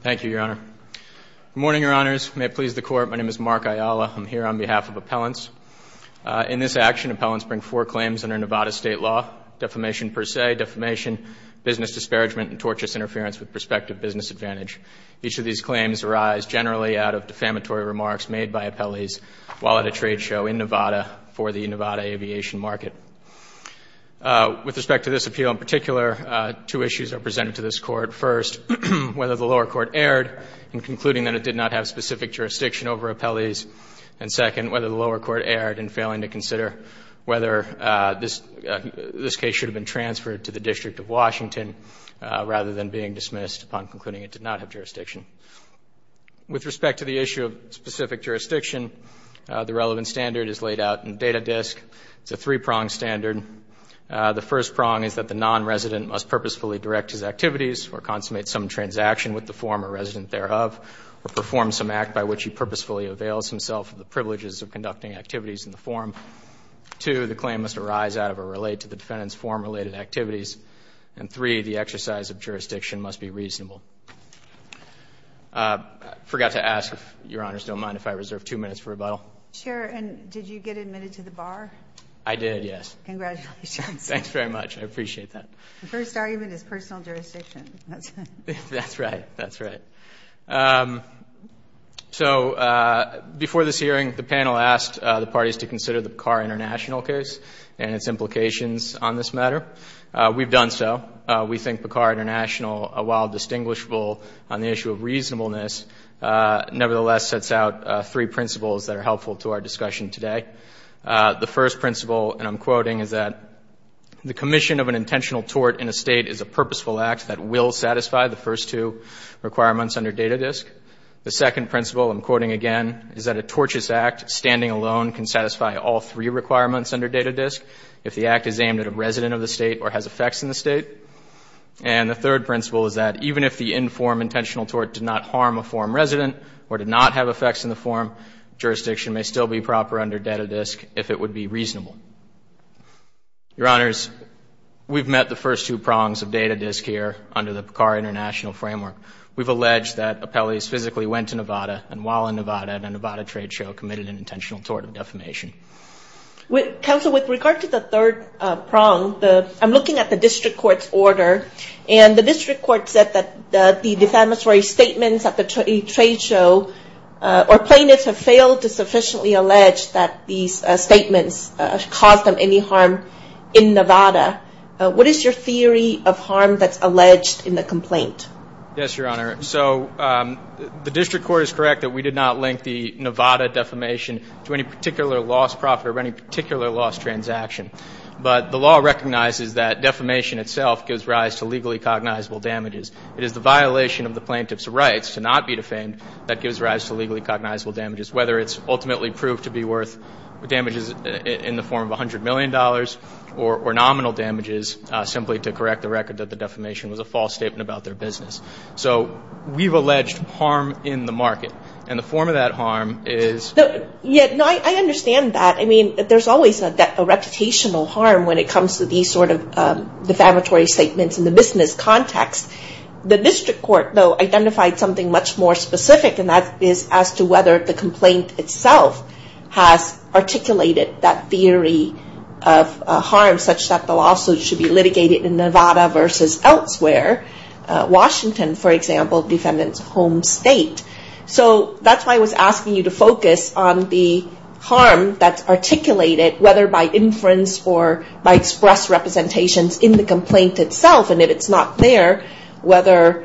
Thank you, Your Honor. Good morning, Your Honors. May it please the Court, my name is Mark Ayala. I'm here on behalf of appellants. In this action, appellants bring four claims under Nevada state law, defamation per se, defamation, business disparagement, and tortious interference with prospective business advantage. Each of these claims arise generally out of defamatory remarks made by appellees while at a trade show in Nevada for the Nevada aviation market. With respect to this appeal in particular, two issues are presented to this Court. First, whether the lower court erred in concluding that it did not have specific jurisdiction over appellees. And second, whether the lower court erred in failing to consider whether this case should have been transferred to the District of Washington rather than being dismissed upon concluding it did not have jurisdiction. With respect to the issue of specific jurisdiction, the relevant standard is laid out in the data disk. It's a three-pronged standard. The first prong is that the non-resident must purposefully direct his activities or consummate some transaction with the former resident thereof or perform some act by which he purposefully avails himself of the privileges of conducting activities in the forum. Two, the claim must arise out of or relate to the defendant's forum-related activities. And three, the exercise of jurisdiction must be reasonable. Forgot to ask, if Your Honors don't mind, if I reserve two minutes for rebuttal. Sure. And did you get admitted to the bar? I did, yes. Congratulations. Thanks very much. I appreciate that. The first argument is personal jurisdiction. That's right. That's right. So before this hearing, the panel asked the parties to consider the Picard International case and its implications on this matter. We've done so. We think Picard International, while distinguishable on the issue of reasonableness, nevertheless sets out three principles that are helpful to our discussion today. The first principle, and I'm quoting, is that the commission of an intentional tort in a state is a purposeful act that will satisfy the first two requirements under data disk. The second principle, I'm quoting again, is that a tortious act standing alone can satisfy all three requirements under data disk if the act is aimed at a resident of the state or has effects in the state. And the third principle is that even if the informed intentional tort did not harm a forum resident or did not have effects in the forum, jurisdiction may still be proper under data disk if it would be reasonable. Your Honors, we've met the first two prongs of data disk here under the Picard International framework. We've alleged that appellees physically went to Nevada, and while in Nevada, at a Nevada trade show, committed an intentional tort of defamation. Counsel, with regard to the third prong, I'm looking at the district court's order. And the district court said that the defamatory statements at the trade show, or plaintiffs have failed to sufficiently allege that these statements caused them any harm in Nevada. What is your theory of harm that's alleged in the complaint? Yes, Your Honor. So the district court is correct that we did not link the Nevada defamation to any particular loss profit or any particular loss transaction. But the law recognizes that defamation itself gives rise to legally cognizable damages. It is the violation of the plaintiff's rights to not be defamed that gives rise to legally cognizable damages, whether it's ultimately proved to be worth damages in the form of $100 million or nominal damages, simply to correct the record that the defamation was a false statement about their business. So we've alleged harm in the market. And the form of that harm is? Yeah, I understand that. I mean, there's always a reputational harm when it comes to these sort of defamatory statements in the business context. The district court, though, identified something much more as to whether the complaint itself has articulated that theory of harm, such that the lawsuit should be litigated in Nevada versus elsewhere. Washington, for example, defendant's home state. So that's why I was asking you to focus on the harm that's articulated, whether by inference or by express representations in the complaint itself. And if it's not there, whether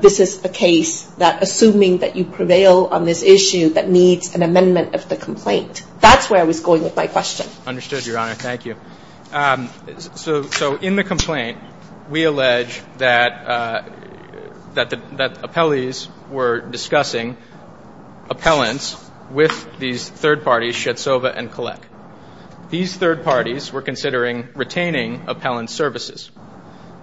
this is a case that, assuming that you prevail on this issue, that needs an amendment of the complaint. That's where I was going with my question. Understood, Your Honor. Thank you. So in the complaint, we allege that the appellees were discussing appellants with these third parties, Schetzova and Kolek. These third parties were considering retaining appellant services.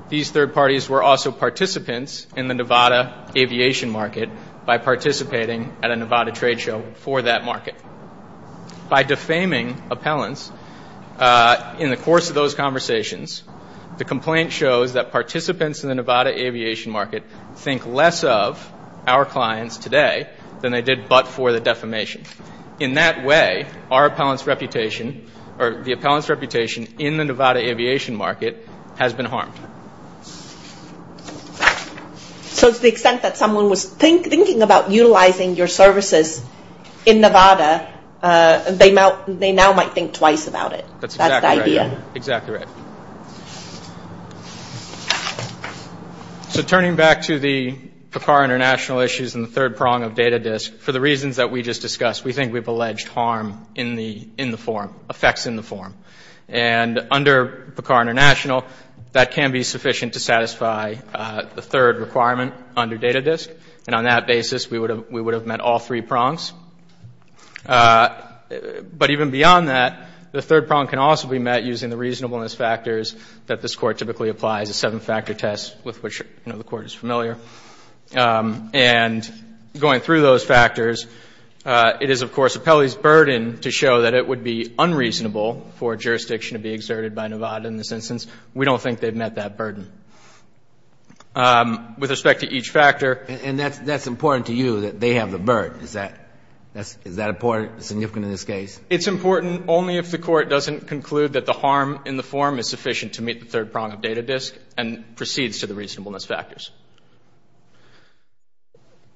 These third parties were also participants in the Nevada aviation market by participating at a Nevada trade show for that market. By defaming appellants in the course of those conversations, the complaint shows that participants in the Nevada aviation market think less of our clients today than they did but for the defamation. In that way, the appellant's reputation in the Nevada aviation market has been harmed. So to the extent that someone was thinking about utilizing your services in Nevada, they now might think twice about it. That's the idea. Exactly right. So turning back to the Picard International issues and the third prong of DataDisk, for the reasons that we just discussed, we think we've alleged harm in the form, effects in the form. And under Picard International, that can be sufficient to satisfy the third requirement under DataDisk. And on that basis, we would have met all three prongs. But even beyond that, the third prong can also be met using the reasonableness factors that this Court typically applies, a seven-factor test with which the Court is familiar. And going through those factors, it is, of course, appellee's burden to show that it would be unreasonable for jurisdiction to be exerted by Nevada in this instance. We don't think they've met that burden. With respect to each factor. And that's important to you, that they have the burden. Is that important, significant in this case? It's important only if the Court doesn't conclude that the harm in the form is sufficient to meet the third prong of DataDisk and proceeds to the reasonableness factors.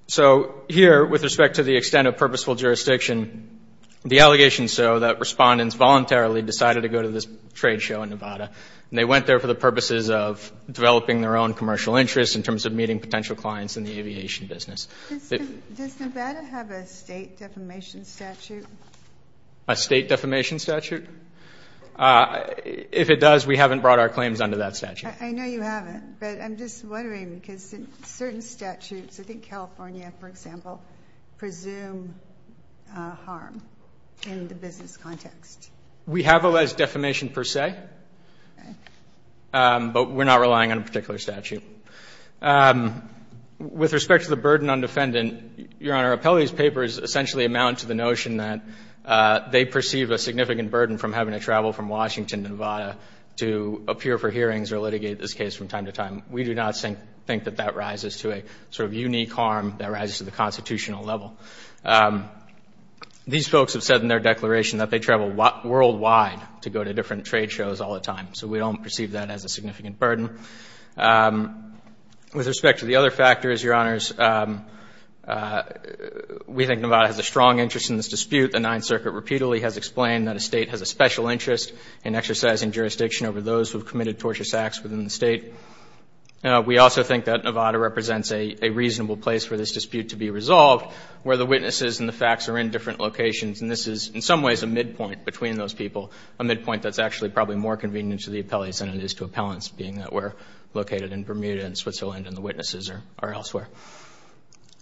So here, with respect to the extent of purposeful jurisdiction, the allegations show that respondents voluntarily decided to go to this trade show in Nevada. And they went there for the purposes of developing their own commercial interests in terms of meeting potential clients in the aviation business. Does Nevada have a state defamation statute? A state defamation statute? If it does, we haven't brought our claims under that statute. I know you haven't, but I'm just wondering because certain statutes, I think California, for example, presume harm in the business context. We have alleged defamation per se. But we're not relying on a particular statute. With respect to the burden on defendant, Your Honor, Appelli's papers essentially amount to the notion that they perceive a significant burden from having to travel from Washington to Nevada to appear for hearings or litigate this case from time to time. We do not think that that rises to a sort of unique harm that rises to the constitutional level. These folks have said in their declaration that they travel worldwide to go to different trade shows all the time. So we don't perceive that as a significant burden. With respect to the other factors, Your Honors, we think Nevada has a strong interest in this dispute. The Ninth Circuit repeatedly has explained that a state has a special interest in exercising jurisdiction over those who have committed tortious acts within the state. We also think that Nevada represents a reasonable place for this dispute to be resolved where the witnesses and the facts are in different locations. And this is, in some ways, a midpoint between those people, a midpoint that's actually probably more convenient to the Appellees than it is to Appellants, being that we're located in Bermuda and Switzerland and the witnesses are elsewhere.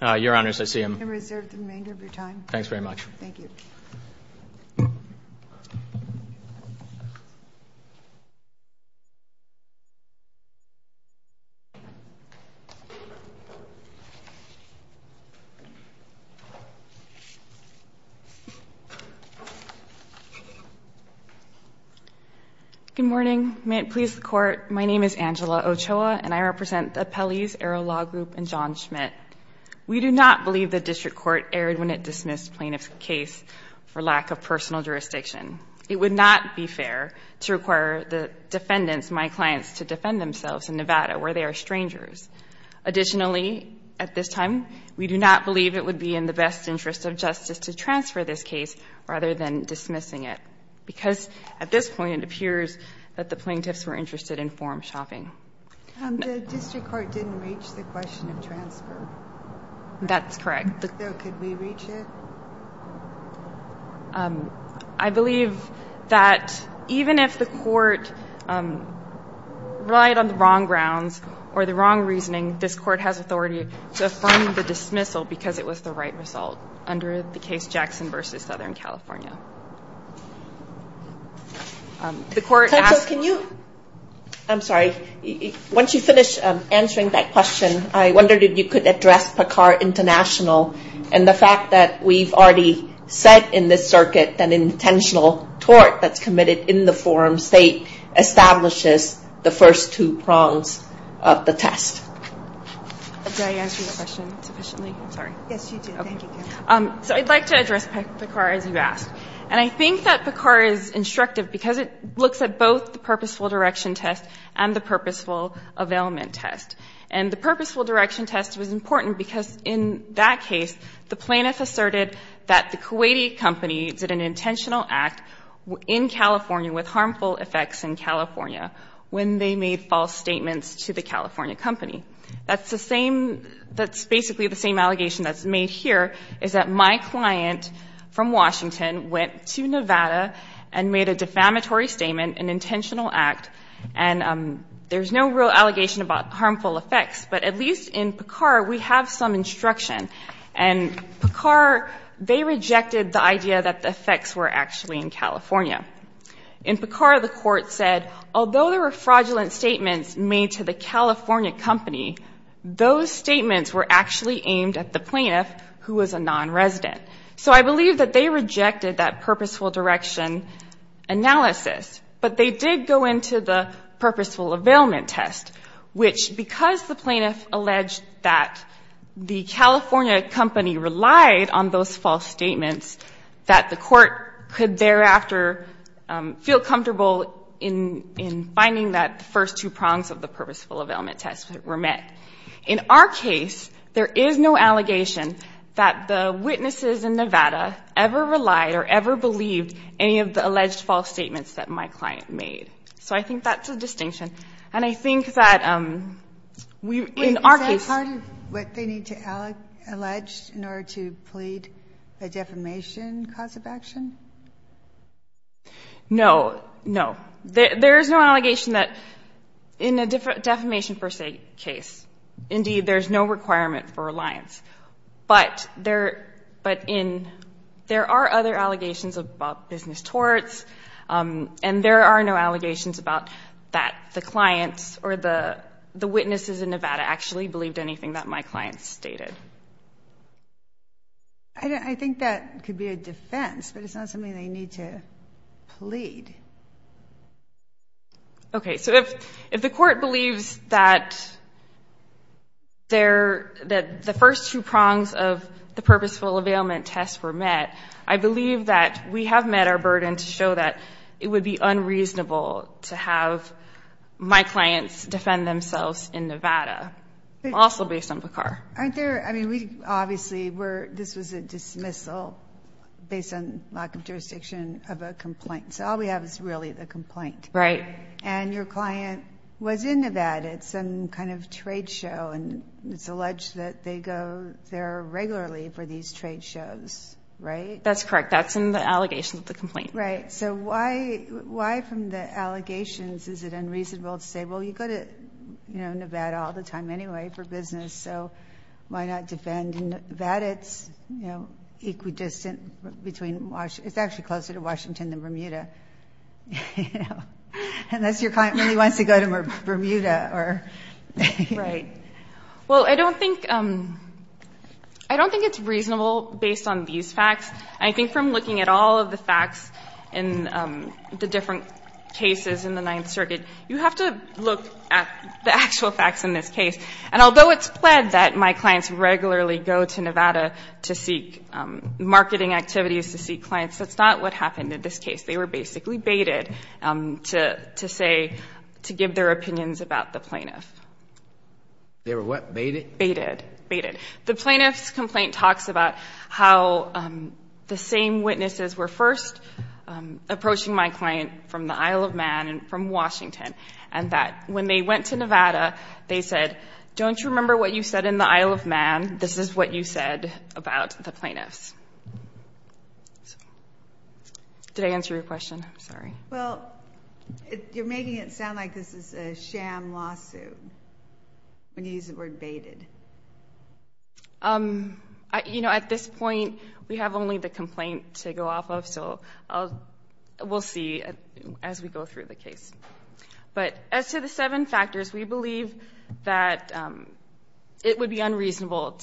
Your Honors, I see I'm- I reserve the remainder of your time. Thanks very much. Thank you. Thank you. Good morning. May it please the Court, my name is Angela Ochoa and I represent the Appellees, Arrow Law Group, and John Schmidt. We do not believe the District Court erred when it dismissed plaintiff's case for lack of personal jurisdiction. It would not be fair to require the defendants, my clients, to defend themselves in Nevada where they are strangers. Additionally, at this time, we do not believe it would be in the best interest of justice to transfer this case rather than dismissing it. Because, at this point, it appears that the plaintiffs were interested in form shopping. The District Court didn't reach the question of transfer. That's correct. Could we reach it? I believe that even if the Court relied on the wrong grounds or the wrong reasoning, this Court has authority to affirm the dismissal because it was the right result under the case Jackson v. Southern California. The Court asked- I'm sorry, once you finish answering that question, I wondered if you could address Picard International and the fact that we've already set in this circuit that intentional tort that's committed in the forum state establishes the first two prongs of the test. Did I answer your question sufficiently? I'm sorry. Yes, you did. Thank you. So I'd like to address Picard as you asked. And I think that Picard is instructive because it looks at both the purposeful direction test and the purposeful availment test. And the purposeful direction test was important because in that case, the plaintiff asserted that the Kuwaiti company did an intentional act in California with harmful effects in California when they made false statements to the California company. That's basically the same allegation that's made here is that my client from Washington went to Nevada and made a defamatory statement, an intentional act, and there's no real allegation about harmful effects, but at least in Picard, we have some instruction. And Picard, they rejected the idea that the effects were actually in California. In Picard, the court said, although there were fraudulent statements made to the California company, those statements were actually aimed at the plaintiff who was a non-resident. So I believe that they rejected that purposeful direction analysis, but they did go into the purposeful availment test, which because the plaintiff alleged that the California company relied on those false statements that the court could thereafter feel comfortable in finding that the first two prongs of the purposeful availment test were met. In our case, there is no allegation that the witnesses in Nevada ever relied or ever believed any of the alleged false statements that my client made. So I think that's a distinction. And I think that in our case- What, they need to allege in order to plead a defamation cause of action? No, no, there's no allegation that in a defamation per se case. Indeed, there's no requirement for reliance. But there are other allegations about business torts and there are no allegations about that the clients or the witnesses in Nevada actually believed anything that my client stated. I think that could be a defense, but it's not something they need to plead. Okay, so if the court believes that the first two prongs of the purposeful availment test were met, I believe that we have met our burden to show that it would be unreasonable to have my clients defend themselves in Nevada. Also based on the car. Aren't there, I mean, we obviously were, this was a dismissal based on lack of jurisdiction of a complaint. So all we have is really the complaint. Right. And your client was in Nevada at some kind of trade show and it's alleged that they go there regularly for these trade shows, right? That's correct. That's in the allegations of the complaint. Right, so why from the allegations is it unreasonable to say, well, you go to Nevada all the time anyway for business, so why not defend Nevada? It's equidistant between, it's actually closer to Washington than Bermuda. Unless your client really wants to go to Bermuda or. Right, well, I don't think it's reasonable based on these facts. I think from looking at all of the facts in the different cases in the Ninth Circuit, you have to look at the actual facts in this case. And although it's pled that my clients regularly go to Nevada to seek marketing activities, to seek clients, that's not what happened in this case. They were basically baited to say, to give their opinions about the plaintiff. They were what, baited? Baited, baited. The plaintiff's complaint talks about how the same witnesses were first approaching my client from the Isle of Man and from Washington, and that when they went to Nevada, they said, don't you remember what you said in the Isle of Man? This is what you said about the plaintiffs. Did I answer your question? I'm sorry. Well, you're making it sound like this is a sham lawsuit when you use the word baited. You know, at this point, we have only the complaint to go off of, so we'll see as we go through the case. But as to the seven factors, we believe that it would be unreasonable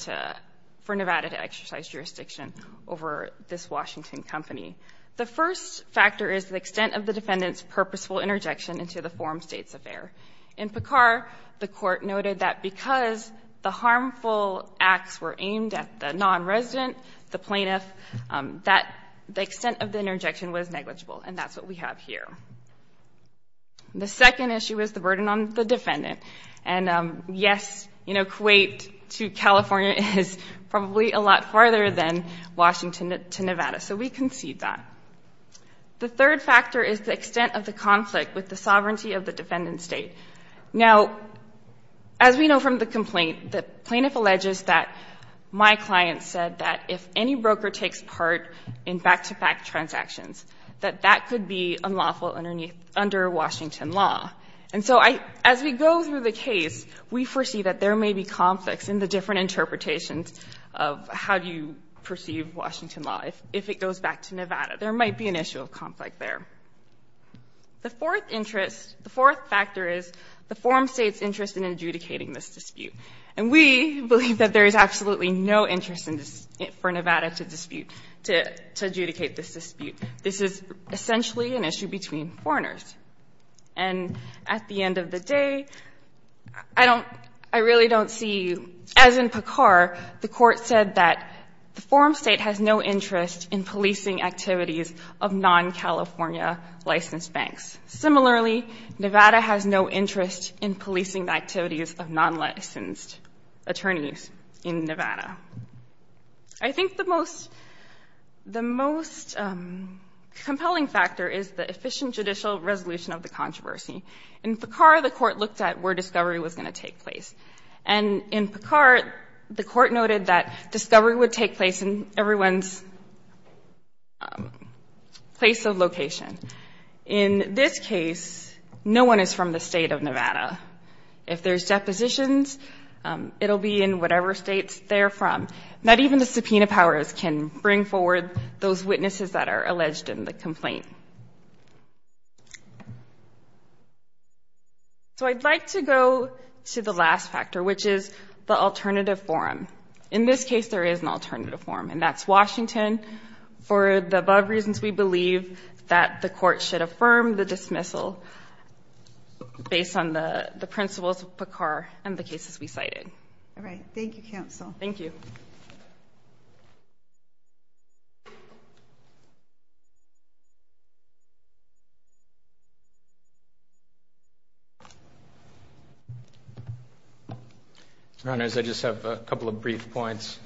for Nevada to exercise jurisdiction over this Washington company. The first factor is the extent of the defendant's purposeful interjection into the form states affair. In Picard, the court noted that because the harmful acts were aimed at the non-resident, the plaintiff, that the extent of the interjection was negligible, and that's what we have here. The second issue is the burden on the defendant. And yes, Kuwait to California is probably a lot farther than Washington to Nevada, so we concede that. The third factor is the extent of the conflict with the sovereignty of the defendant's state. Now, as we know from the complaint, the plaintiff alleges that my client said that if any broker takes part in back-to-back transactions, that that could be unlawful under Washington law. And so, as we go through the case, we foresee that there may be conflicts in the different interpretations of how you perceive Washington law. If it goes back to Nevada, there might be an issue of conflict there. The fourth interest, the fourth factor is the form state's interest in adjudicating this dispute. And we believe that there is absolutely no interest for Nevada to dispute, to adjudicate this dispute. This is essentially an issue between foreigners. And at the end of the day, I really don't see, as in Picar, the court said that the form state has no interest in policing activities of non-California licensed banks. Similarly, Nevada has no interest in policing activities of non-licensed attorneys in Nevada. I think the most compelling factor is the efficient judicial resolution of the controversy. In Picar, the court looked at where discovery was going to take place. And in Picar, the court noted that discovery would take place in everyone's place of location. In this case, no one is from the state of Nevada. If there's depositions, it'll be in whatever states they're from. Not even the subpoena powers can bring forward those witnesses that are alleged in the complaint. So I'd like to go to the last factor, which is the alternative form. In this case, there is an alternative form, and that's Washington. For the above reasons, we believe that the court should affirm the dismissal based on the principles of Picar and the cases we cited. All right, thank you, counsel. Thank you. Runners, I just have a couple of brief points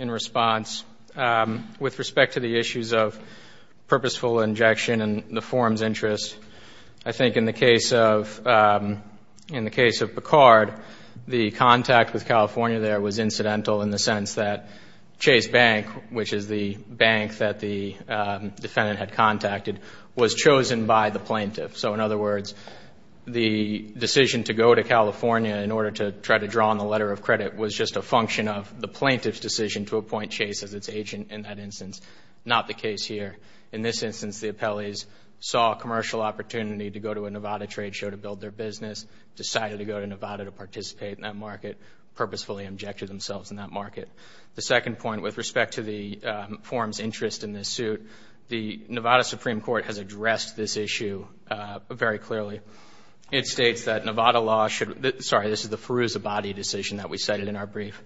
in response. With respect to the issues of purposeful injection and the forum's interest, I think in the case of Picard, the contact with California there was incidental in the sense that Chase Bank, which is the bank that the defendant had contacted, was chosen by the plaintiff. So in other words, the decision to go to California in order to try to draw on the letter of credit was just a function of the plaintiff's decision to appoint Chase as its agent in that instance, not the case here. In this instance, the appellees saw a commercial opportunity to go to a Nevada trade show to build their business, decided to go to Nevada to participate in that market, purposefully injected themselves in that market. The second point with respect to the forum's interest in this suit, the Nevada Supreme Court has addressed this issue very clearly. It states that Nevada law should, sorry, this is the Firouz Abadi decision that we cited in our brief.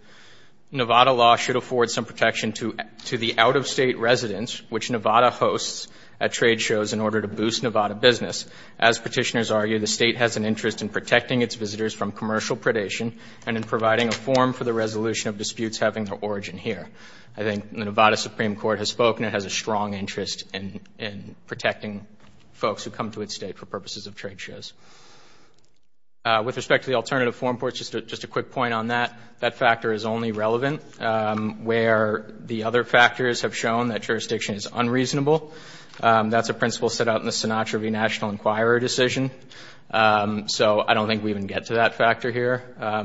Nevada law should afford some protection to the out-of-state residents, which Nevada hosts at trade shows in order to boost Nevada business. As petitioners argue, the state has an interest in protecting its visitors from commercial predation and in providing a forum for the resolution of disputes having their origin here. I think the Nevada Supreme Court has spoken. It has a strong interest in protecting folks who come to its state for purposes of trade shows. With respect to the alternative forum boards, just a quick point on that. That factor is only relevant where the other factors have shown that jurisdiction is unreasonable. That's a principle set out in the Sinatra v. National Inquirer decision. So I don't think we even get to that factor here.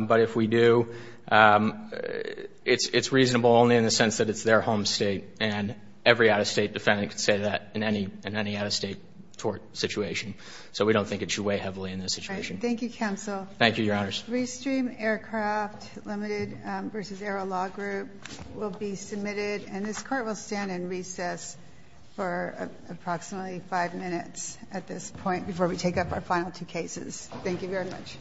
But if we do, it's reasonable only in the sense that it's their home state and every out-of-state defendant can say that in any out-of-state tort situation. So we don't think it should weigh heavily in this situation. Thank you, counsel. Thank you, your honors. Restream Aircraft Limited v. Arrow Law Group will be submitted and this court will stand in recess for approximately five minutes at this point before we take up our final two cases. Thank you very much.